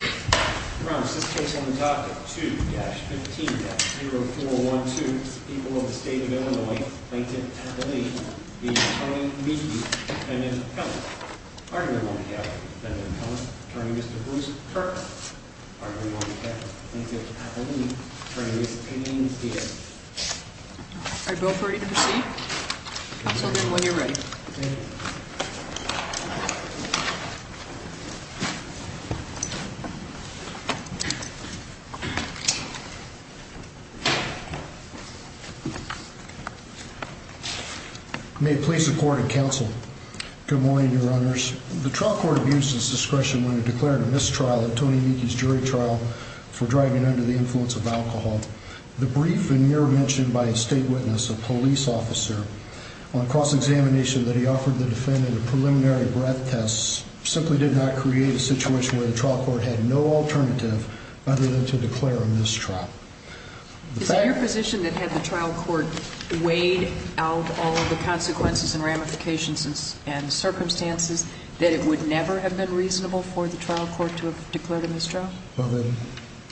2-15-0412 People of the State of Illinois Plaintiff Appellee v. Attorney Meekey, Defendant Pellis, Argument on behalf of Defendant Pellis, Attorney Mr. Bruce Kirkland, Argument on behalf of Plaintiff Appellee, Attorney Ms. Payne Diaz Are you both ready to proceed? Counselor, when you're ready. May it please the court and counsel. Good morning, Your Honors. The trial court abused its discretion when it declared a mistrial in Tony Meekey's jury trial for driving under the influence of alcohol. The brief veneer mentioned by a state witness, a police officer, on cross-examination that he offered the defendant a preliminary breath test simply did not create a situation where the trial court had no alternative other than to declare a mistrial. Is it your position that had the trial court weighed out all of the consequences and ramifications and circumstances, that it would never have been reasonable for the trial court to have declared a mistrial? Well,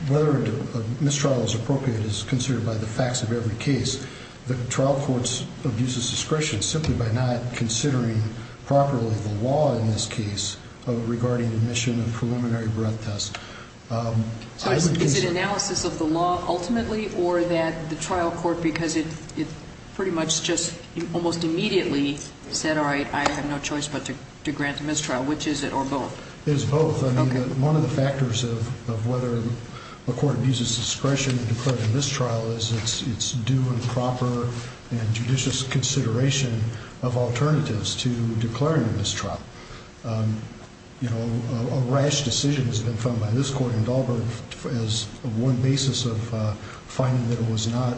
whether a mistrial is appropriate is considered by the facts of every case. The trial court abuses discretion simply by not considering properly the law in this case regarding admission of preliminary breath tests. Is it analysis of the law ultimately or that the trial court, because it pretty much just almost immediately said, all right, I have no choice but to grant the mistrial, which is it, or both? It is both. I mean, one of the factors of whether a court abuses discretion in declaring a mistrial is it's due and proper and judicious consideration of alternatives to declaring a mistrial. You know, a rash decision has been found by this court in Dahlberg as one basis of finding that it was not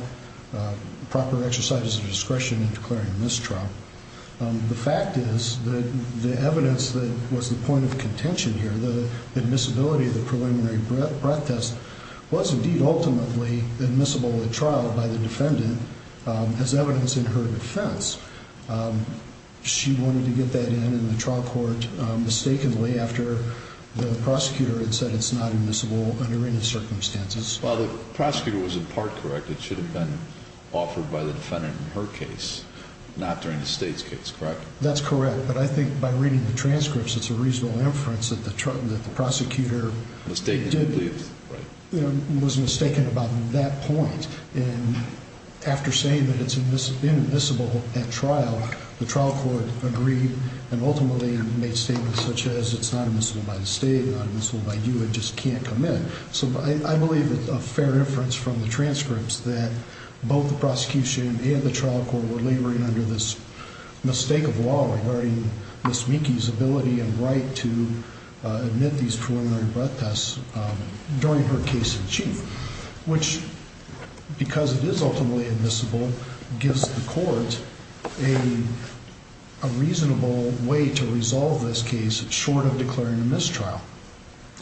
proper exercise of discretion in declaring a mistrial. The fact is that the evidence that was the point of contention here, the admissibility of the preliminary breath test, was indeed ultimately admissible at trial by the defendant as evidence in her defense. She wanted to get that in in the trial court mistakenly after the prosecutor had said it's not admissible under any circumstances. Well, the prosecutor was in part correct. It should have been offered by the defendant in her case, not during the state's case, correct? That's correct. But I think by reading the transcripts, it's a reasonable inference that the prosecutor was mistaken about that point. And after saying that it's admissible at trial, the trial court agreed and ultimately made statements such as it's not admissible by the state, not admissible by you, it just can't come in. So I believe it's a fair inference from the transcripts that both the prosecution and the trial court were laboring under this mistake of law regarding Miss Meekie's ability and right to admit these preliminary breath tests during her case in chief. Which, because it is ultimately admissible, gives the court a reasonable way to resolve this case short of declaring a mistrial.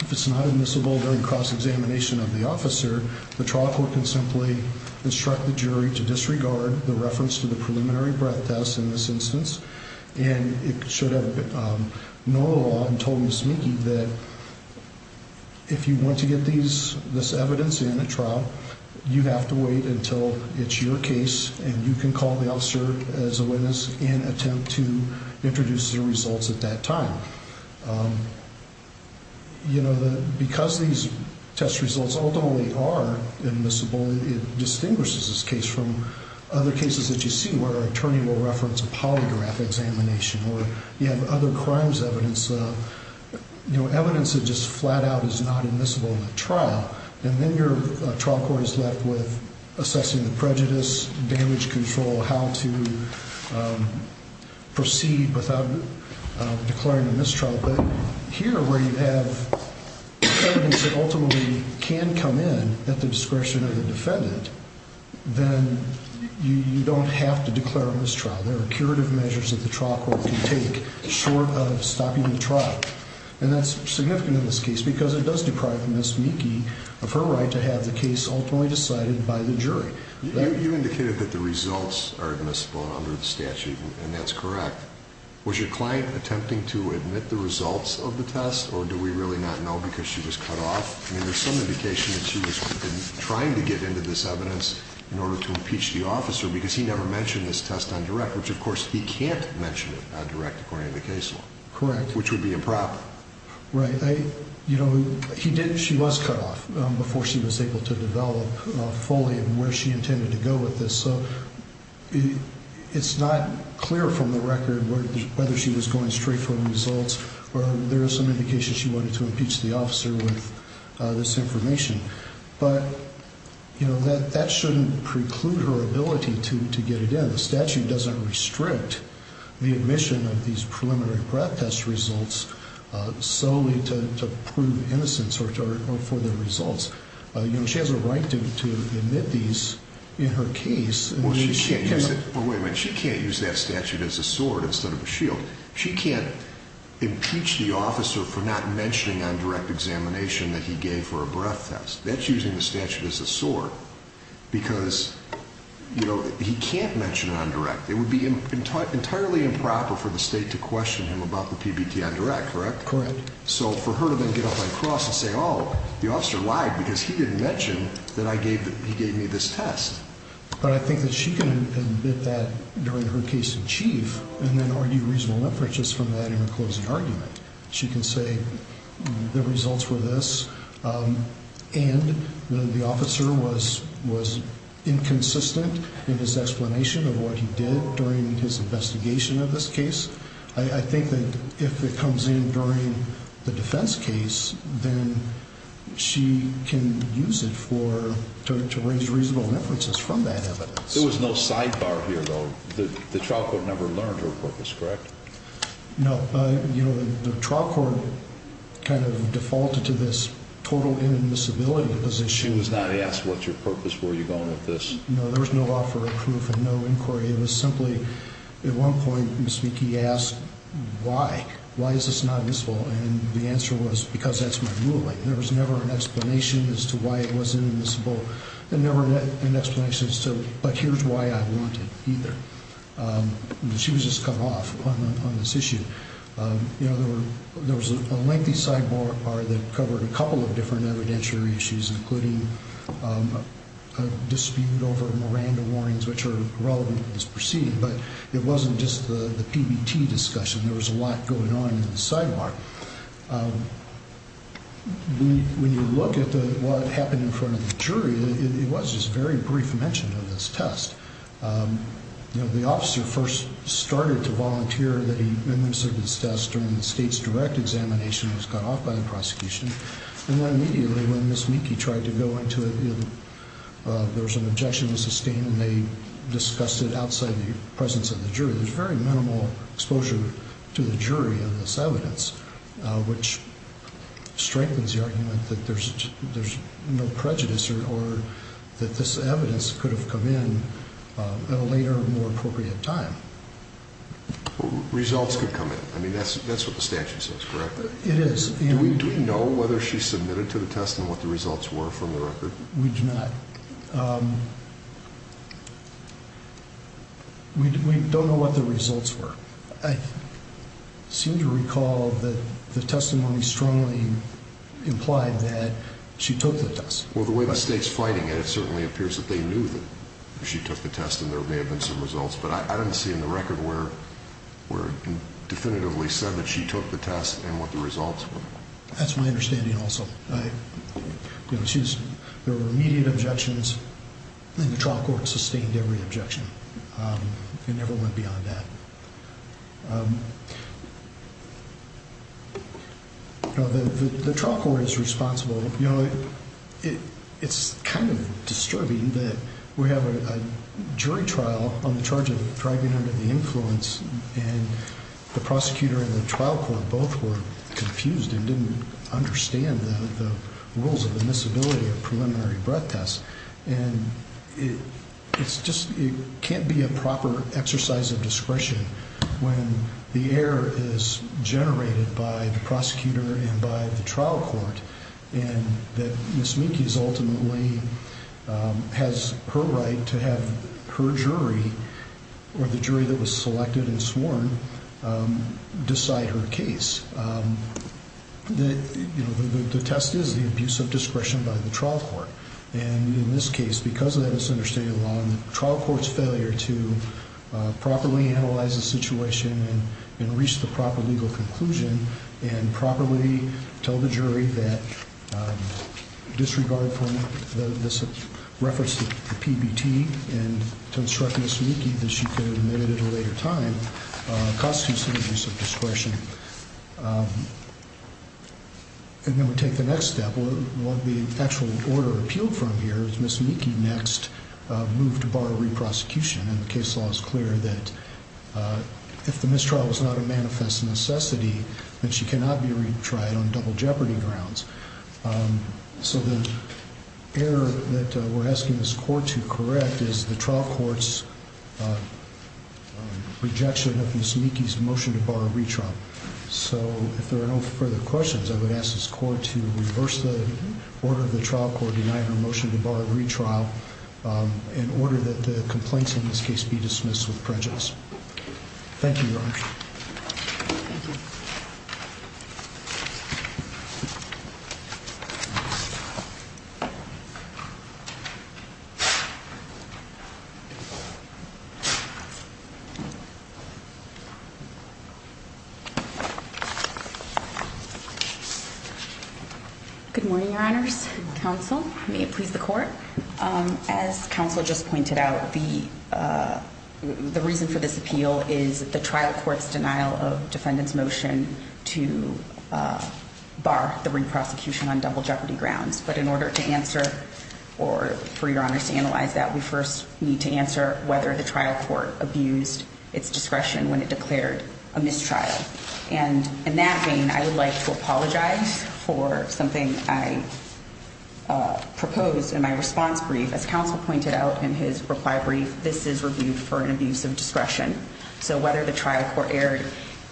If it's not admissible during cross-examination of the officer, the trial court can simply instruct the jury to disregard the reference to the preliminary breath test in this instance. And it should have known the law and told Miss Meekie that if you want to get this evidence in at trial, you have to wait until it's your case and you can call the officer as a witness and attempt to introduce the results at that time. Because these test results ultimately are admissible, it distinguishes this case from other cases that you see where an attorney will reference a polygraph examination or you have other crimes evidence. Evidence that just flat out is not admissible in a trial, and then your trial court is left with assessing the prejudice, damage control, how to proceed without declaring a mistrial. But here, where you have evidence that ultimately can come in at the discretion of the defendant, then you don't have to declare a mistrial. There are curative measures that the trial court can take short of stopping the trial. And that's significant in this case because it does deprive Miss Meekie of her right to have the case ultimately decided by the jury. You indicated that the results are admissible under the statute, and that's correct. Was your client attempting to admit the results of the test, or do we really not know because she was cut off? I mean, there's some indication that she was trying to get into this evidence in order to impeach the officer because he never mentioned this test on direct, which, of course, he can't mention it on direct according to the case law. Correct. Which would be improper. Right. She was cut off before she was able to develop fully where she intended to go with this. So it's not clear from the record whether she was going straight for the results or there is some indication she wanted to impeach the officer with this information. But, you know, that shouldn't preclude her ability to get it in. The statute doesn't restrict the admission of these preliminary breath test results solely to prove innocence or for the results. You know, she has a right to admit these in her case. Well, she can't use it. Wait a minute. She can't use that statute as a sword instead of a shield. She can't impeach the officer for not mentioning on direct examination that he gave her a breath test. That's using the statute as a sword because, you know, he can't mention it on direct. It would be entirely improper for the state to question him about the PBT on direct, correct? Correct. So for her to then get up on the cross and say, oh, the officer lied because he didn't mention that he gave me this test. But I think that she can admit that during her case in chief and then argue reasonable inferences from that in a closing argument. She can say the results were this and the officer was inconsistent in his explanation of what he did during his investigation of this case. I think that if it comes in during the defense case, then she can use it for to raise reasonable inferences from that evidence. There was no sidebar here, though. The trial court never learned her purpose, correct? No. You know, the trial court kind of defaulted to this total inadmissibility position. She was not asked, what's your purpose? Where are you going with this? No, there was no offer of proof and no inquiry. It was simply, at one point, Ms. Vicki asked, why? Why is this not admissible? And the answer was, because that's my ruling. There was never an explanation as to why it was inadmissible. There was never an explanation as to, but here's why I want it either. She was just cut off on this issue. You know, there was a lengthy sidebar that covered a couple of different evidentiary issues, including a dispute over Miranda warnings, which are relevant to this proceeding. But it wasn't just the PBT discussion. There was a lot going on in the sidebar. When you look at what happened in front of the jury, it was just very brief mention of this test. You know, the officer first started to volunteer that he administered this test during the state's direct examination and was cut off by the prosecution. And then immediately, when Ms. Vicki tried to go into it, there was an objection to sustain, and they discussed it outside the presence of the jury. There's very minimal exposure to the jury of this evidence, which strengthens the argument that there's no prejudice or that this evidence could have come in at a later, more appropriate time. Results could come in. I mean, that's what the statute says, correct? It is. Do we know whether she submitted to the test and what the results were from the record? We do not. We don't know what the results were. I seem to recall that the testimony strongly implied that she took the test. Well, the way the state's fighting it, it certainly appears that they knew that she took the test and there may have been some results, but I don't see in the record where it definitively said that she took the test and what the results were. That's my understanding also. There were immediate objections, and the trial court sustained every objection. It never went beyond that. The trial court is responsible. You know, it's kind of disturbing that we have a jury trial on the charge of driving under the influence, and the prosecutor and the trial court both were confused and didn't understand the rules of admissibility of preliminary breath tests. It can't be a proper exercise of discretion when the error is generated by the prosecutor and by the trial court and that Ms. Minkes ultimately has her right to have her jury or the jury that was selected and sworn decide her case. The test is the abuse of discretion by the trial court, and in this case, because of that misunderstanding of the law, the trial court's failure to properly analyze the situation and reach the proper legal conclusion and properly tell the jury that disregard for this reference to PBT and to instruct Ms. Minkes that she could have admitted at a later time constitutes an abuse of discretion. And then we take the next step. What the actual order appealed from here is Ms. Minkes next moved to borrow re-prosecution, and the case law is clear that if the mistrial was not a manifest necessity, that she cannot be retried on double jeopardy grounds. So the error that we're asking this court to correct is the trial court's rejection of Ms. Minkes' motion to borrow retrial. So if there are no further questions, I would ask this court to reverse the order of the trial court denying her motion to borrow retrial in order that the complaints in this case be dismissed with prejudice. Good morning, Your Honors. Counsel, may it please the court. As counsel just pointed out, the reason for this appeal is the trial court's denial of defendant's motion to bar the re-prosecution on double jeopardy grounds. But in order to answer or for Your Honors to analyze that, we first need to answer whether the trial court abused its discretion when it declared a mistrial. And in that vein, I would like to apologize for something I proposed in my response brief. As counsel pointed out in his reply brief, this is reviewed for an abuse of discretion. So whether the trial court erred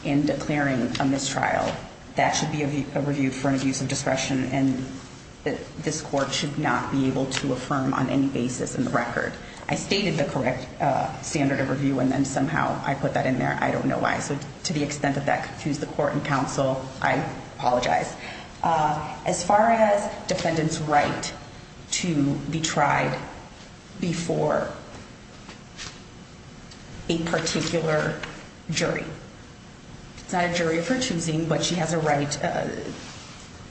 in declaring a mistrial, that should be reviewed for an abuse of discretion, and this court should not be able to affirm on any basis in the record. I stated the correct standard of review, and then somehow I put that in there. I don't know why. So to the extent that that confused the court and counsel, I apologize. As far as defendant's right to be tried before a particular jury, it's not a jury of her choosing, but she has a right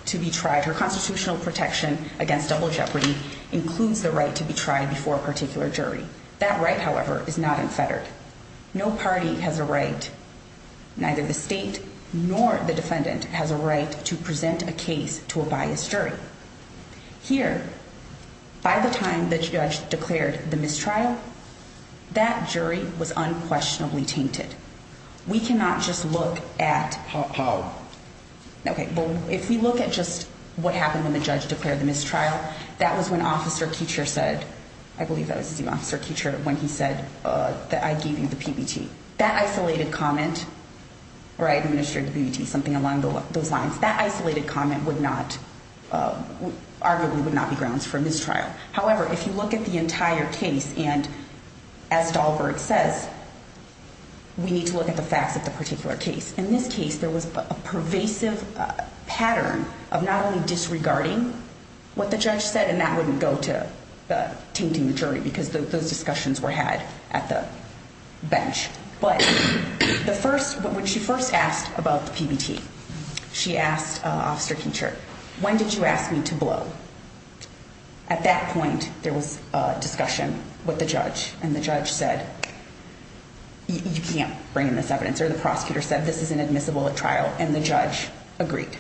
to be tried. Her constitutional protection against double jeopardy includes the right to be tried before a particular jury. That right, however, is not unfettered. No party has a right, neither the state nor the defendant, has a right to present a case to a biased jury. Here, by the time the judge declared the mistrial, that jury was unquestionably tainted. We cannot just look at how. Okay, if we look at just what happened when the judge declared the mistrial, that was when Officer Kuecher said, I believe that was the officer Kuecher, when he said that I gave you the PBT. That isolated comment, or I administered the PBT, something along those lines, that isolated comment would not, arguably would not be grounds for a mistrial. However, if you look at the entire case, and as Stahlberg says, we need to look at the facts of the particular case. In this case, there was a pervasive pattern of not only disregarding what the judge said, and that wouldn't go to tainting the jury because those discussions were had at the bench. But when she first asked about the PBT, she asked Officer Kuecher, when did you ask me to blow? At that point, there was a discussion with the judge, and the judge said, you can't bring in this evidence. And the answer, the prosecutor said, this is inadmissible at trial, and the judge agreed.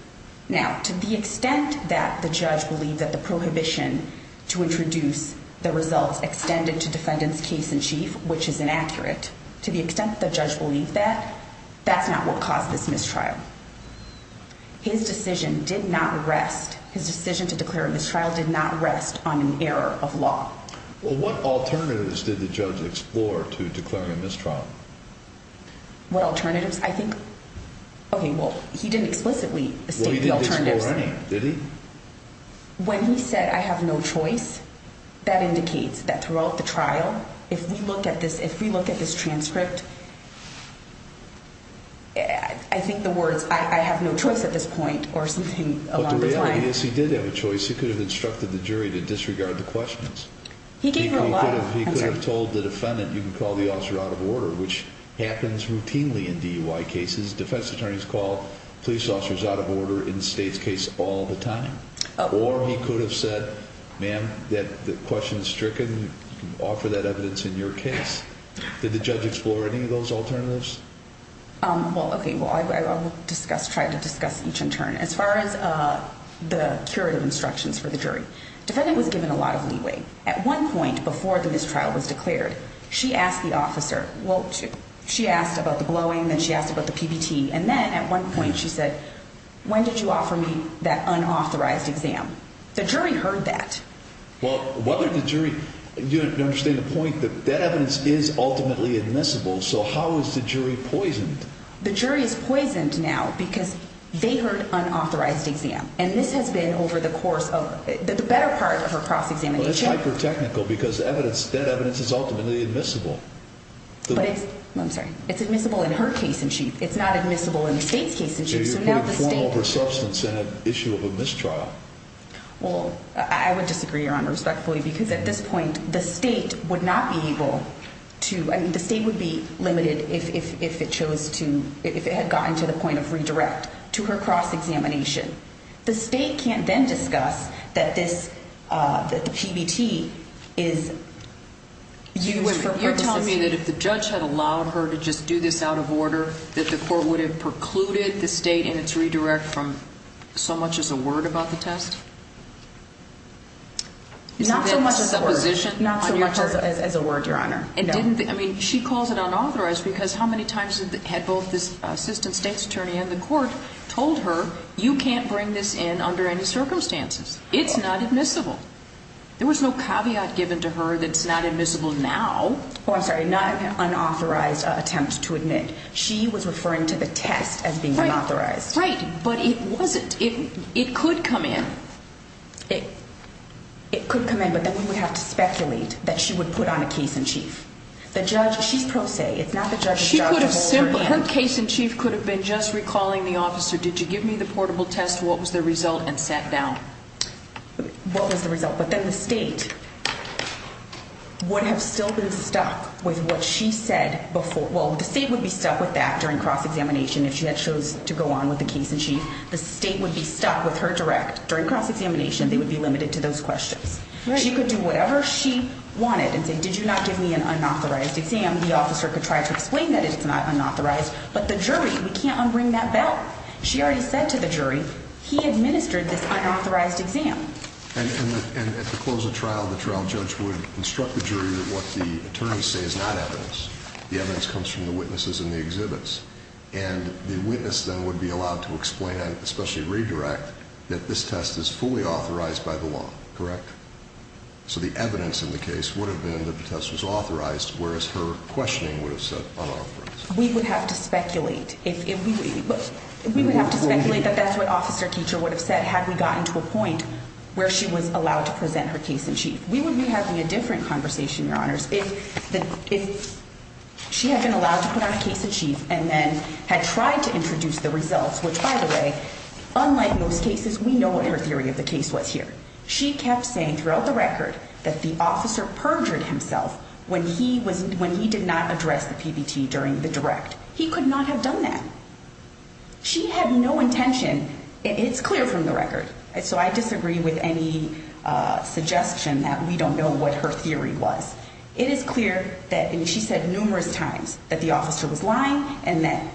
Now, to the extent that the judge believed that the prohibition to introduce the results extended to defendant's case in chief, which is inaccurate, to the extent that the judge believed that, that's not what caused this mistrial. His decision did not rest, his decision to declare a mistrial did not rest on an error of law. Well, what alternatives did the judge explore to declaring a mistrial? What alternatives? I think, okay, well, he didn't explicitly state the alternatives. Well, he didn't explore any, did he? When he said, I have no choice, that indicates that throughout the trial, if we look at this transcript, I think the words, I have no choice at this point, or something along those lines. Yes, he did have a choice. He could have instructed the jury to disregard the questions. He gave a lot of answers. He could have told the defendant, you can call the officer out of order, which happens routinely in DUI cases. Defense attorneys call police officers out of order in the state's case all the time. Or he could have said, ma'am, the question is stricken, offer that evidence in your case. Did the judge explore any of those alternatives? Well, okay, well, I will discuss, try to discuss each in turn. As far as the curative instructions for the jury, defendant was given a lot of leeway. At one point before the mistrial was declared, she asked the officer, well, she asked about the blowing, then she asked about the PBT, and then at one point she said, when did you offer me that unauthorized exam? The jury heard that. Well, whether the jury, you understand the point that that evidence is ultimately admissible, so how is the jury poisoned? The jury is poisoned now because they heard unauthorized exam, and this has been over the course of, the better part of her cross-examination. Well, it's hyper-technical because evidence, that evidence is ultimately admissible. But it's, I'm sorry, it's admissible in her case in chief. It's not admissible in the state's case in chief, so now the state. So you're putting form over substance in an issue of a mistrial. Well, I would disagree, Your Honor, respectfully, because at this point, the state would not be able to, I mean, the state would be limited if it chose to, if it had gotten to the point of redirect to her cross-examination. The state can't then discuss that this, that the PBT is used for purposes. You're telling me that if the judge had allowed her to just do this out of order, that the court would have precluded the state in its redirect from so much as a word about the test? Not so much as a word. Is it a supposition? Not so much as a word, Your Honor. It didn't, I mean, she calls it unauthorized because how many times had both the assistant state's attorney and the court told her, you can't bring this in under any circumstances. It's not admissible. There was no caveat given to her that it's not admissible now. Oh, I'm sorry, not unauthorized attempts to admit. She was referring to the test as being unauthorized. Right, but it wasn't. It could come in. It could come in, but then we would have to speculate that she would put on a case in chief. The judge, she's pro se, it's not the judge's job to hold her in. Her case in chief could have been just recalling the officer, did you give me the portable test, what was the result, and sat down. What was the result? But then the state would have still been stuck with what she said before. Well, the state would be stuck with that during cross-examination if she had chosen to go on with the case in chief. The state would be stuck with her direct. During cross-examination, they would be limited to those questions. She could do whatever she wanted and say, did you not give me an unauthorized exam? The officer could try to explain that it's not unauthorized, but the jury, we can't unbring that back. She already said to the jury, he administered this unauthorized exam. And at the close of trial, the trial judge would instruct the jury that what the attorneys say is not evidence. The evidence comes from the witnesses and the exhibits. And the witness then would be allowed to explain, especially redirect, that this test is fully authorized by the law, correct? So the evidence in the case would have been that the test was authorized, whereas her questioning would have said unauthorized. We would have to speculate. We would have to speculate that that's what Officer Keecher would have said had we gotten to a point where she was allowed to present her case in chief. We would be having a different conversation, Your Honors, if she had been allowed to put on a case in chief and then had tried to introduce the results, which, by the way, unlike most cases, we know what her theory of the case was here. She kept saying throughout the record that the officer perjured himself when he did not address the PBT during the direct. He could not have done that. She had no intention. It's clear from the record. So I disagree with any suggestion that we don't know what her theory was. It is clear that she said numerous times that the officer was lying and that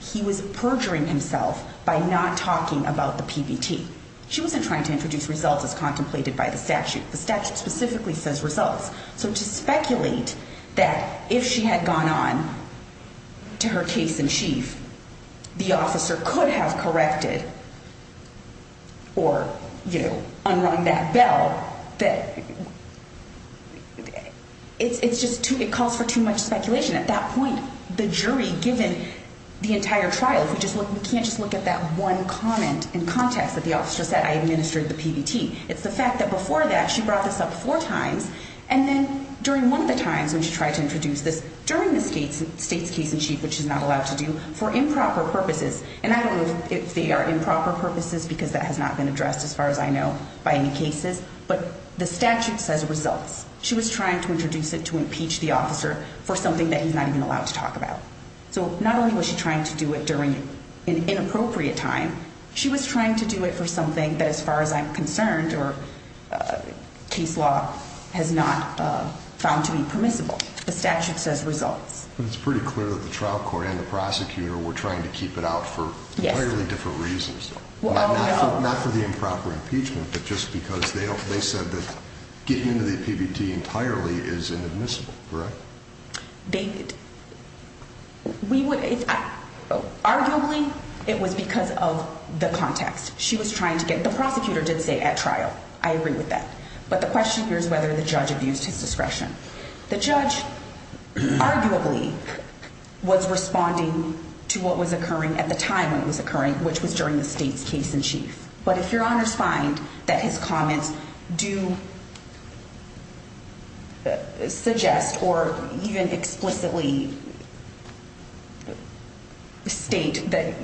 he was perjuring himself by not talking about the PBT. She wasn't trying to introduce results as contemplated by the statute. The statute specifically says results. So to speculate that if she had gone on to her case in chief, the officer could have corrected or, you know, unrung that bell, that it's just too – it calls for too much speculation. At that point, the jury, given the entire trial, we can't just look at that one comment in context that the officer said, I administered the PBT. It's the fact that before that, she brought this up four times, and then during one of the times when she tried to introduce this, during the state's case in chief, which she's not allowed to do, for improper purposes, and I don't know if they are improper purposes because that has not been addressed as far as I know by any cases, but the statute says results. She was trying to introduce it to impeach the officer for something that he's not even allowed to talk about. So not only was she trying to do it during an inappropriate time, she was trying to do it for something that, as far as I'm concerned, or case law has not found to be permissible. The statute says results. But it's pretty clear that the trial court and the prosecutor were trying to keep it out for entirely different reasons. Not for the improper impeachment, but just because they said that getting into the PBT entirely is inadmissible, correct? Arguably, it was because of the context. The prosecutor did say at trial. I agree with that. But the question here is whether the judge abused his discretion. The judge arguably was responding to what was occurring at the time when it was occurring, which was during the state's case in chief. But if your honors find that his comments do suggest or even explicitly state that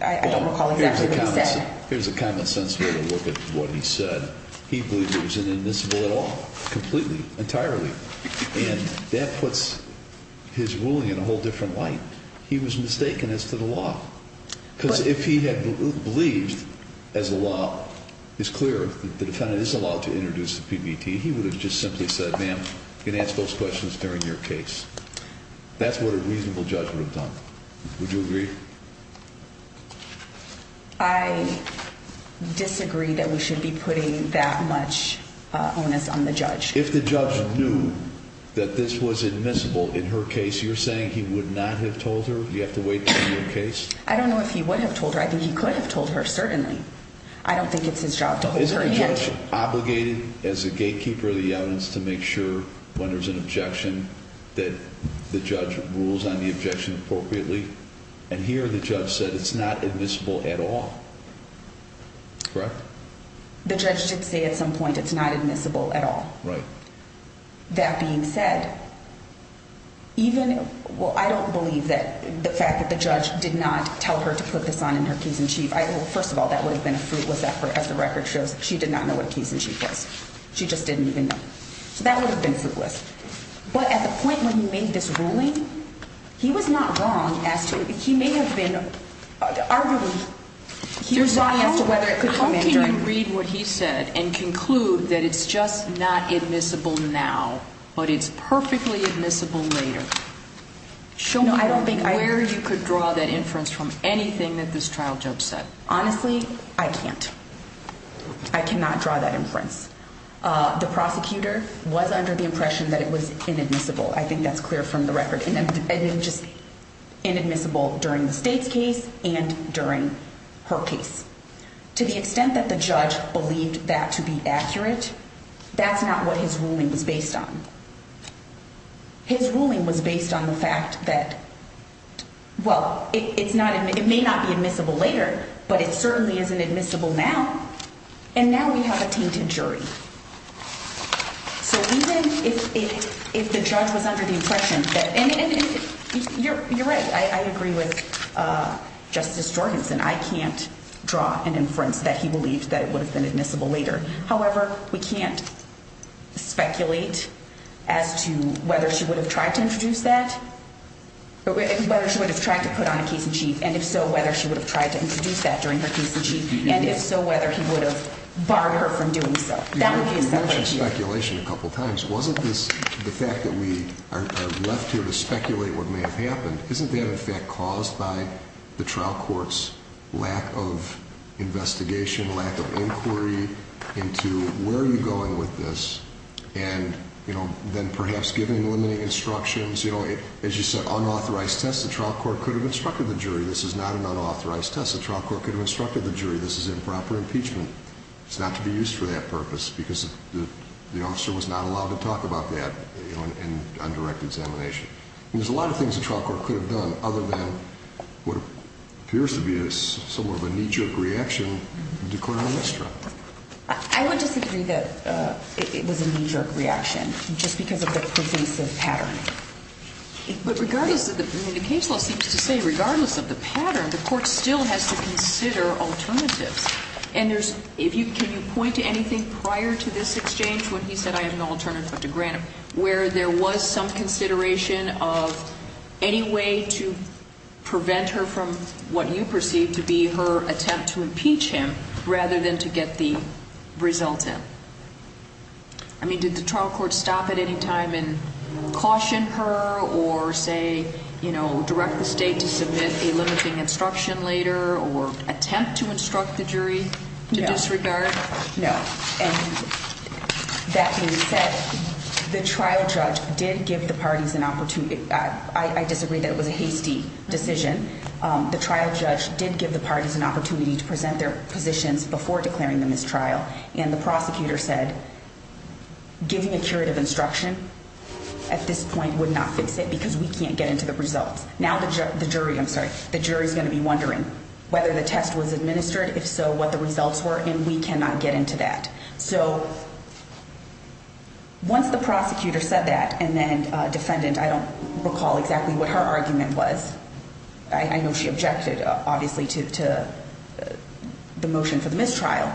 I don't recall exactly what he said. Here's a common sense way to look at what he said. He believes it was inadmissible at all, completely, entirely. And that puts his ruling in a whole different light. He was mistaken as to the law. Because if he had believed as the law is clear that the defendant is allowed to introduce the PBT, he would have just simply said, ma'am, you can ask those questions during your case. That's what a reasonable judge would have done. Would you agree? I disagree that we should be putting that much onus on the judge. If the judge knew that this was admissible in her case, you're saying he would not have told her? I don't know if he would have told her. I think he could have told her, certainly. I don't think it's his job to hold her hand. Is the judge obligated as a gatekeeper of the evidence to make sure when there's an objection that the judge rules on the objection appropriately? And here the judge said it's not admissible at all. Correct? The judge did say at some point it's not admissible at all. Right. That being said, even – well, I don't believe that the fact that the judge did not tell her to put this on in her case in chief – well, first of all, that would have been a fruitless effort, as the record shows. She did not know what a case in chief was. She just didn't even know. So that would have been fruitless. But at the point when he made this ruling, he was not wrong as to – he may have been – arguably, he was wrong as to whether it could come in during – But it's perfectly admissible later. Show me where you could draw that inference from anything that this trial judge said. Honestly, I can't. I cannot draw that inference. The prosecutor was under the impression that it was inadmissible. I think that's clear from the record. Just inadmissible during the state's case and during her case. To the extent that the judge believed that to be accurate, that's not what his ruling was based on. His ruling was based on the fact that – well, it's not – it may not be admissible later, but it certainly isn't admissible now. And now we have a tainted jury. So even if the judge was under the impression that – and you're right. I agree with Justice Jorgensen. I can't draw an inference that he believed that it would have been admissible later. However, we can't speculate as to whether she would have tried to introduce that – whether she would have tried to put on a case in chief. And if so, whether she would have tried to introduce that during her case in chief. And if so, whether he would have barred her from doing so. You mentioned speculation a couple times. Wasn't this – the fact that we are left here to speculate what may have happened, isn't that in fact caused by the trial court's lack of investigation, lack of inquiry into where are you going with this? And, you know, then perhaps giving limiting instructions. You know, as you said, unauthorized test. The trial court could have instructed the jury. This is not an unauthorized test. The trial court could have instructed the jury. This is improper impeachment. It's not to be used for that purpose because the officer was not allowed to talk about that on direct examination. And there's a lot of things the trial court could have done other than what appears to be somewhat of a knee-jerk reaction declaring a misdraft. I would disagree that it was a knee-jerk reaction just because of the pervasive pattern. But regardless of the – I mean, the case law seems to say regardless of the pattern, the court still has to consider alternatives. And there's – if you – can you point to anything prior to this exchange when he said I have no alternative but to grant him, where there was some consideration of any way to prevent her from what you perceive to be her attempt to impeach him rather than to get the result in? I mean, did the trial court stop at any time and caution her or say, you know, direct the state to submit a limiting instruction later or attempt to instruct the jury to disregard? No. And that being said, the trial judge did give the parties an opportunity – I disagree that it was a hasty decision. The trial judge did give the parties an opportunity to present their positions before declaring the mistrial. And the prosecutor said giving a curative instruction at this point would not fix it because we can't get into the results. Now the jury – I'm sorry – the jury is going to be wondering whether the test was administered, if so, what the results were, and we cannot get into that. So once the prosecutor said that and then defendant – I don't recall exactly what her argument was. I know she objected, obviously, to the motion for the mistrial,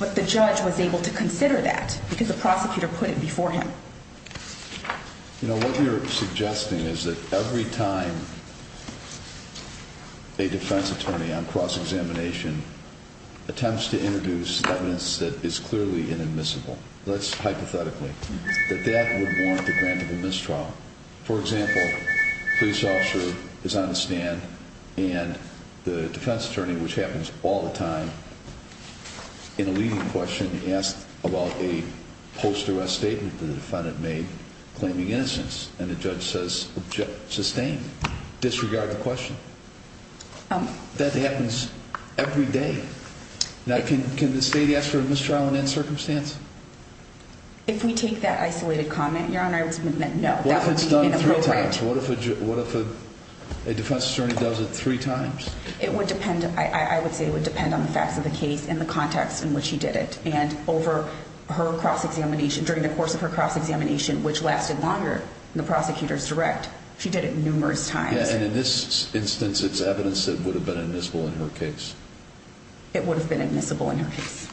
but the judge was able to consider that because the prosecutor put it before him. You know, what we are suggesting is that every time a defense attorney on cross-examination attempts to introduce evidence that is clearly inadmissible, let's hypothetically, that that would warrant the grant of a mistrial. For example, a police officer is on the stand and the defense attorney, which happens all the time, in a leading question, asks about a post-arrest statement the defendant made claiming innocence. And the judge says, sustain, disregard the question. That happens every day. Now can the state ask for a mistrial in that circumstance? If we take that isolated comment, Your Honor, no. What if it's done three times? What if a defense attorney does it three times? It would depend – I would say it would depend on the facts of the case and the context in which she did it. And over her cross-examination, during the course of her cross-examination, which lasted longer than the prosecutor's direct, she did it numerous times. Yeah, and in this instance, it's evidence that would have been admissible in her case. It would have been admissible in her case.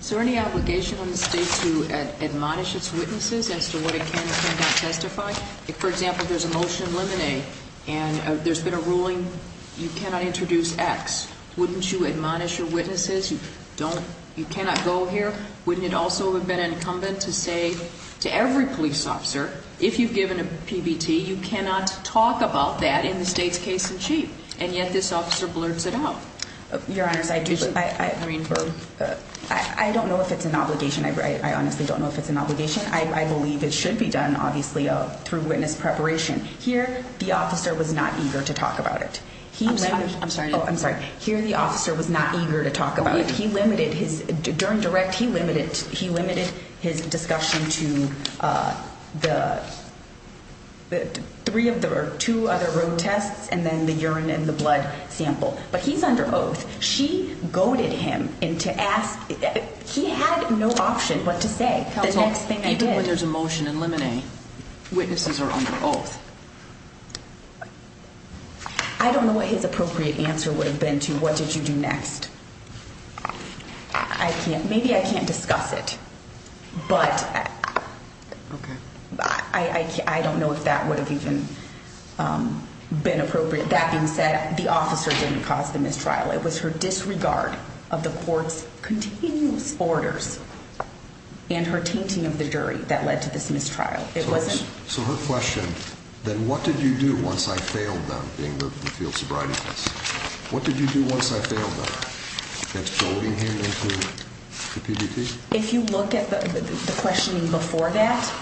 Is there any obligation on the state to admonish its witnesses as to what it can and cannot testify? For example, there's a motion in Lemonade, and there's been a ruling, you cannot introduce X. Wouldn't you admonish your witnesses? You cannot go here. Wouldn't it also have been incumbent to say to every police officer, if you've given a PBT, you cannot talk about that in the state's case-in-chief? And yet this officer blurts it out. Your Honor, I don't know if it's an obligation. I honestly don't know if it's an obligation. I believe it should be done, obviously, through witness preparation. Here, the officer was not eager to talk about it. I'm sorry. Oh, I'm sorry. Here, the officer was not eager to talk about it. During direct, he limited his discussion to three of the two other road tests and then the urine and the blood sample. But he's under oath. She goaded him into asking. He had no option but to say, the next thing I did. Counsel, even when there's a motion in Lemonade, witnesses are under oath. I don't know what his appropriate answer would have been to, what did you do next? I can't. Maybe I can't discuss it. But I don't know if that would have even been appropriate. That being said, the officer didn't cause the mistrial. It was her disregard of the court's continuous orders and her tainting of the jury that led to this mistrial. So her question, then, what did you do once I failed them, being the field sobriety test? What did you do once I failed them? That's goading him into PBT? If you look at the questioning before that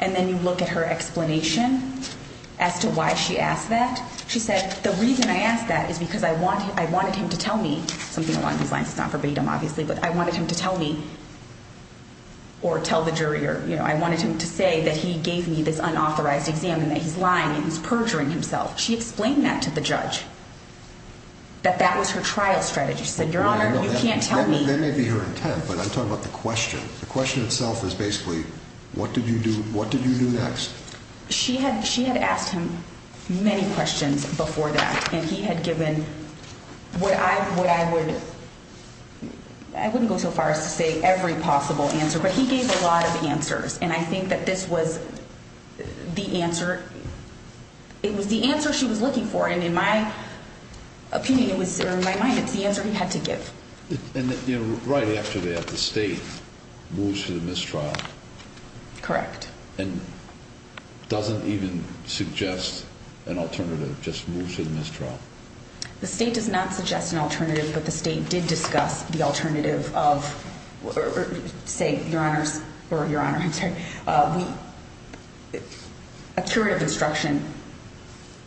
and then you look at her explanation as to why she asked that, she said, the reason I asked that is because I wanted him to tell me something along these lines. It's not verbatim, obviously, but I wanted him to tell me or tell the jury or, you know, I wanted him to say that he gave me this unauthorized exam and that he's lying and he's perjuring himself. She explained that to the judge, that that was her trial strategy. She said, Your Honor, you can't tell me. That may be her intent, but I'm talking about the question. The question itself is basically, what did you do? What did you do next? She had asked him many questions before that, and he had given what I would – I wouldn't go so far as to say every possible answer, but he gave a lot of answers, and I think that this was the answer – it was the answer she was looking for, and in my opinion it was – or in my mind it's the answer he had to give. And, you know, right after that the State moves to the mistrial. Correct. And doesn't even suggest an alternative, just moves to the mistrial. The State does not suggest an alternative, but the State did discuss the alternative of – say, Your Honors – or Your Honor, I'm sorry – a curative instruction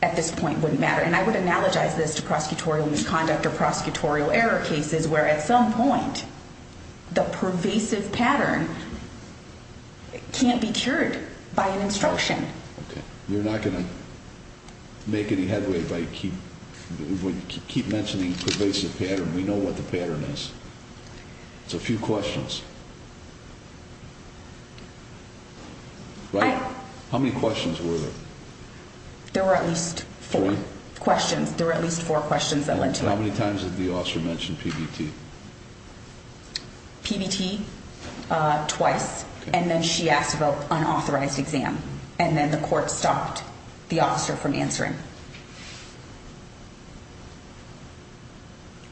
at this point wouldn't matter, and I would analogize this to prosecutorial misconduct or prosecutorial error cases where at some point the pervasive pattern can't be cured by an instruction. You're not going to make any headway if I keep mentioning pervasive pattern. We know what the pattern is. It's a few questions. Right? How many questions were there? There were at least four. Four? Questions. There were at least four questions that led to it. And how many times did the officer mention PBT? PBT twice, and then she asked about unauthorized exam, and then the court stopped the officer from answering.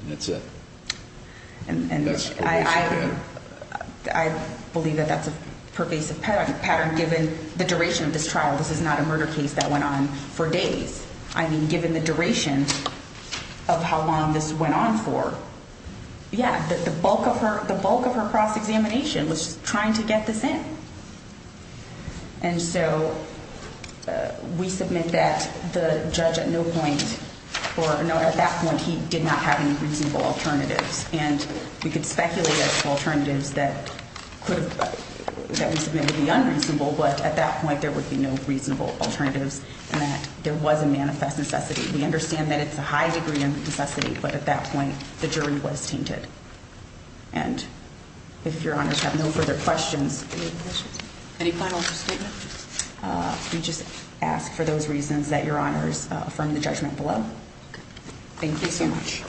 And that's it. And I believe that that's a pervasive pattern given the duration of this trial. This is not a murder case that went on for days. I mean, given the duration of how long this went on for. Yeah, the bulk of her cross-examination was trying to get this in. And so we submit that the judge at no point – or no, at that point he did not have any reasonable alternatives, and we could speculate as to alternatives that could have – that would have been reasonable, but at that point there would be no reasonable alternatives, and that there was a manifest necessity. We understand that it's a high degree of necessity, but at that point the jury was tainted. And if Your Honors have no further questions. Any final statement? We just ask for those reasons that Your Honors affirm the judgment below. Thank you so much.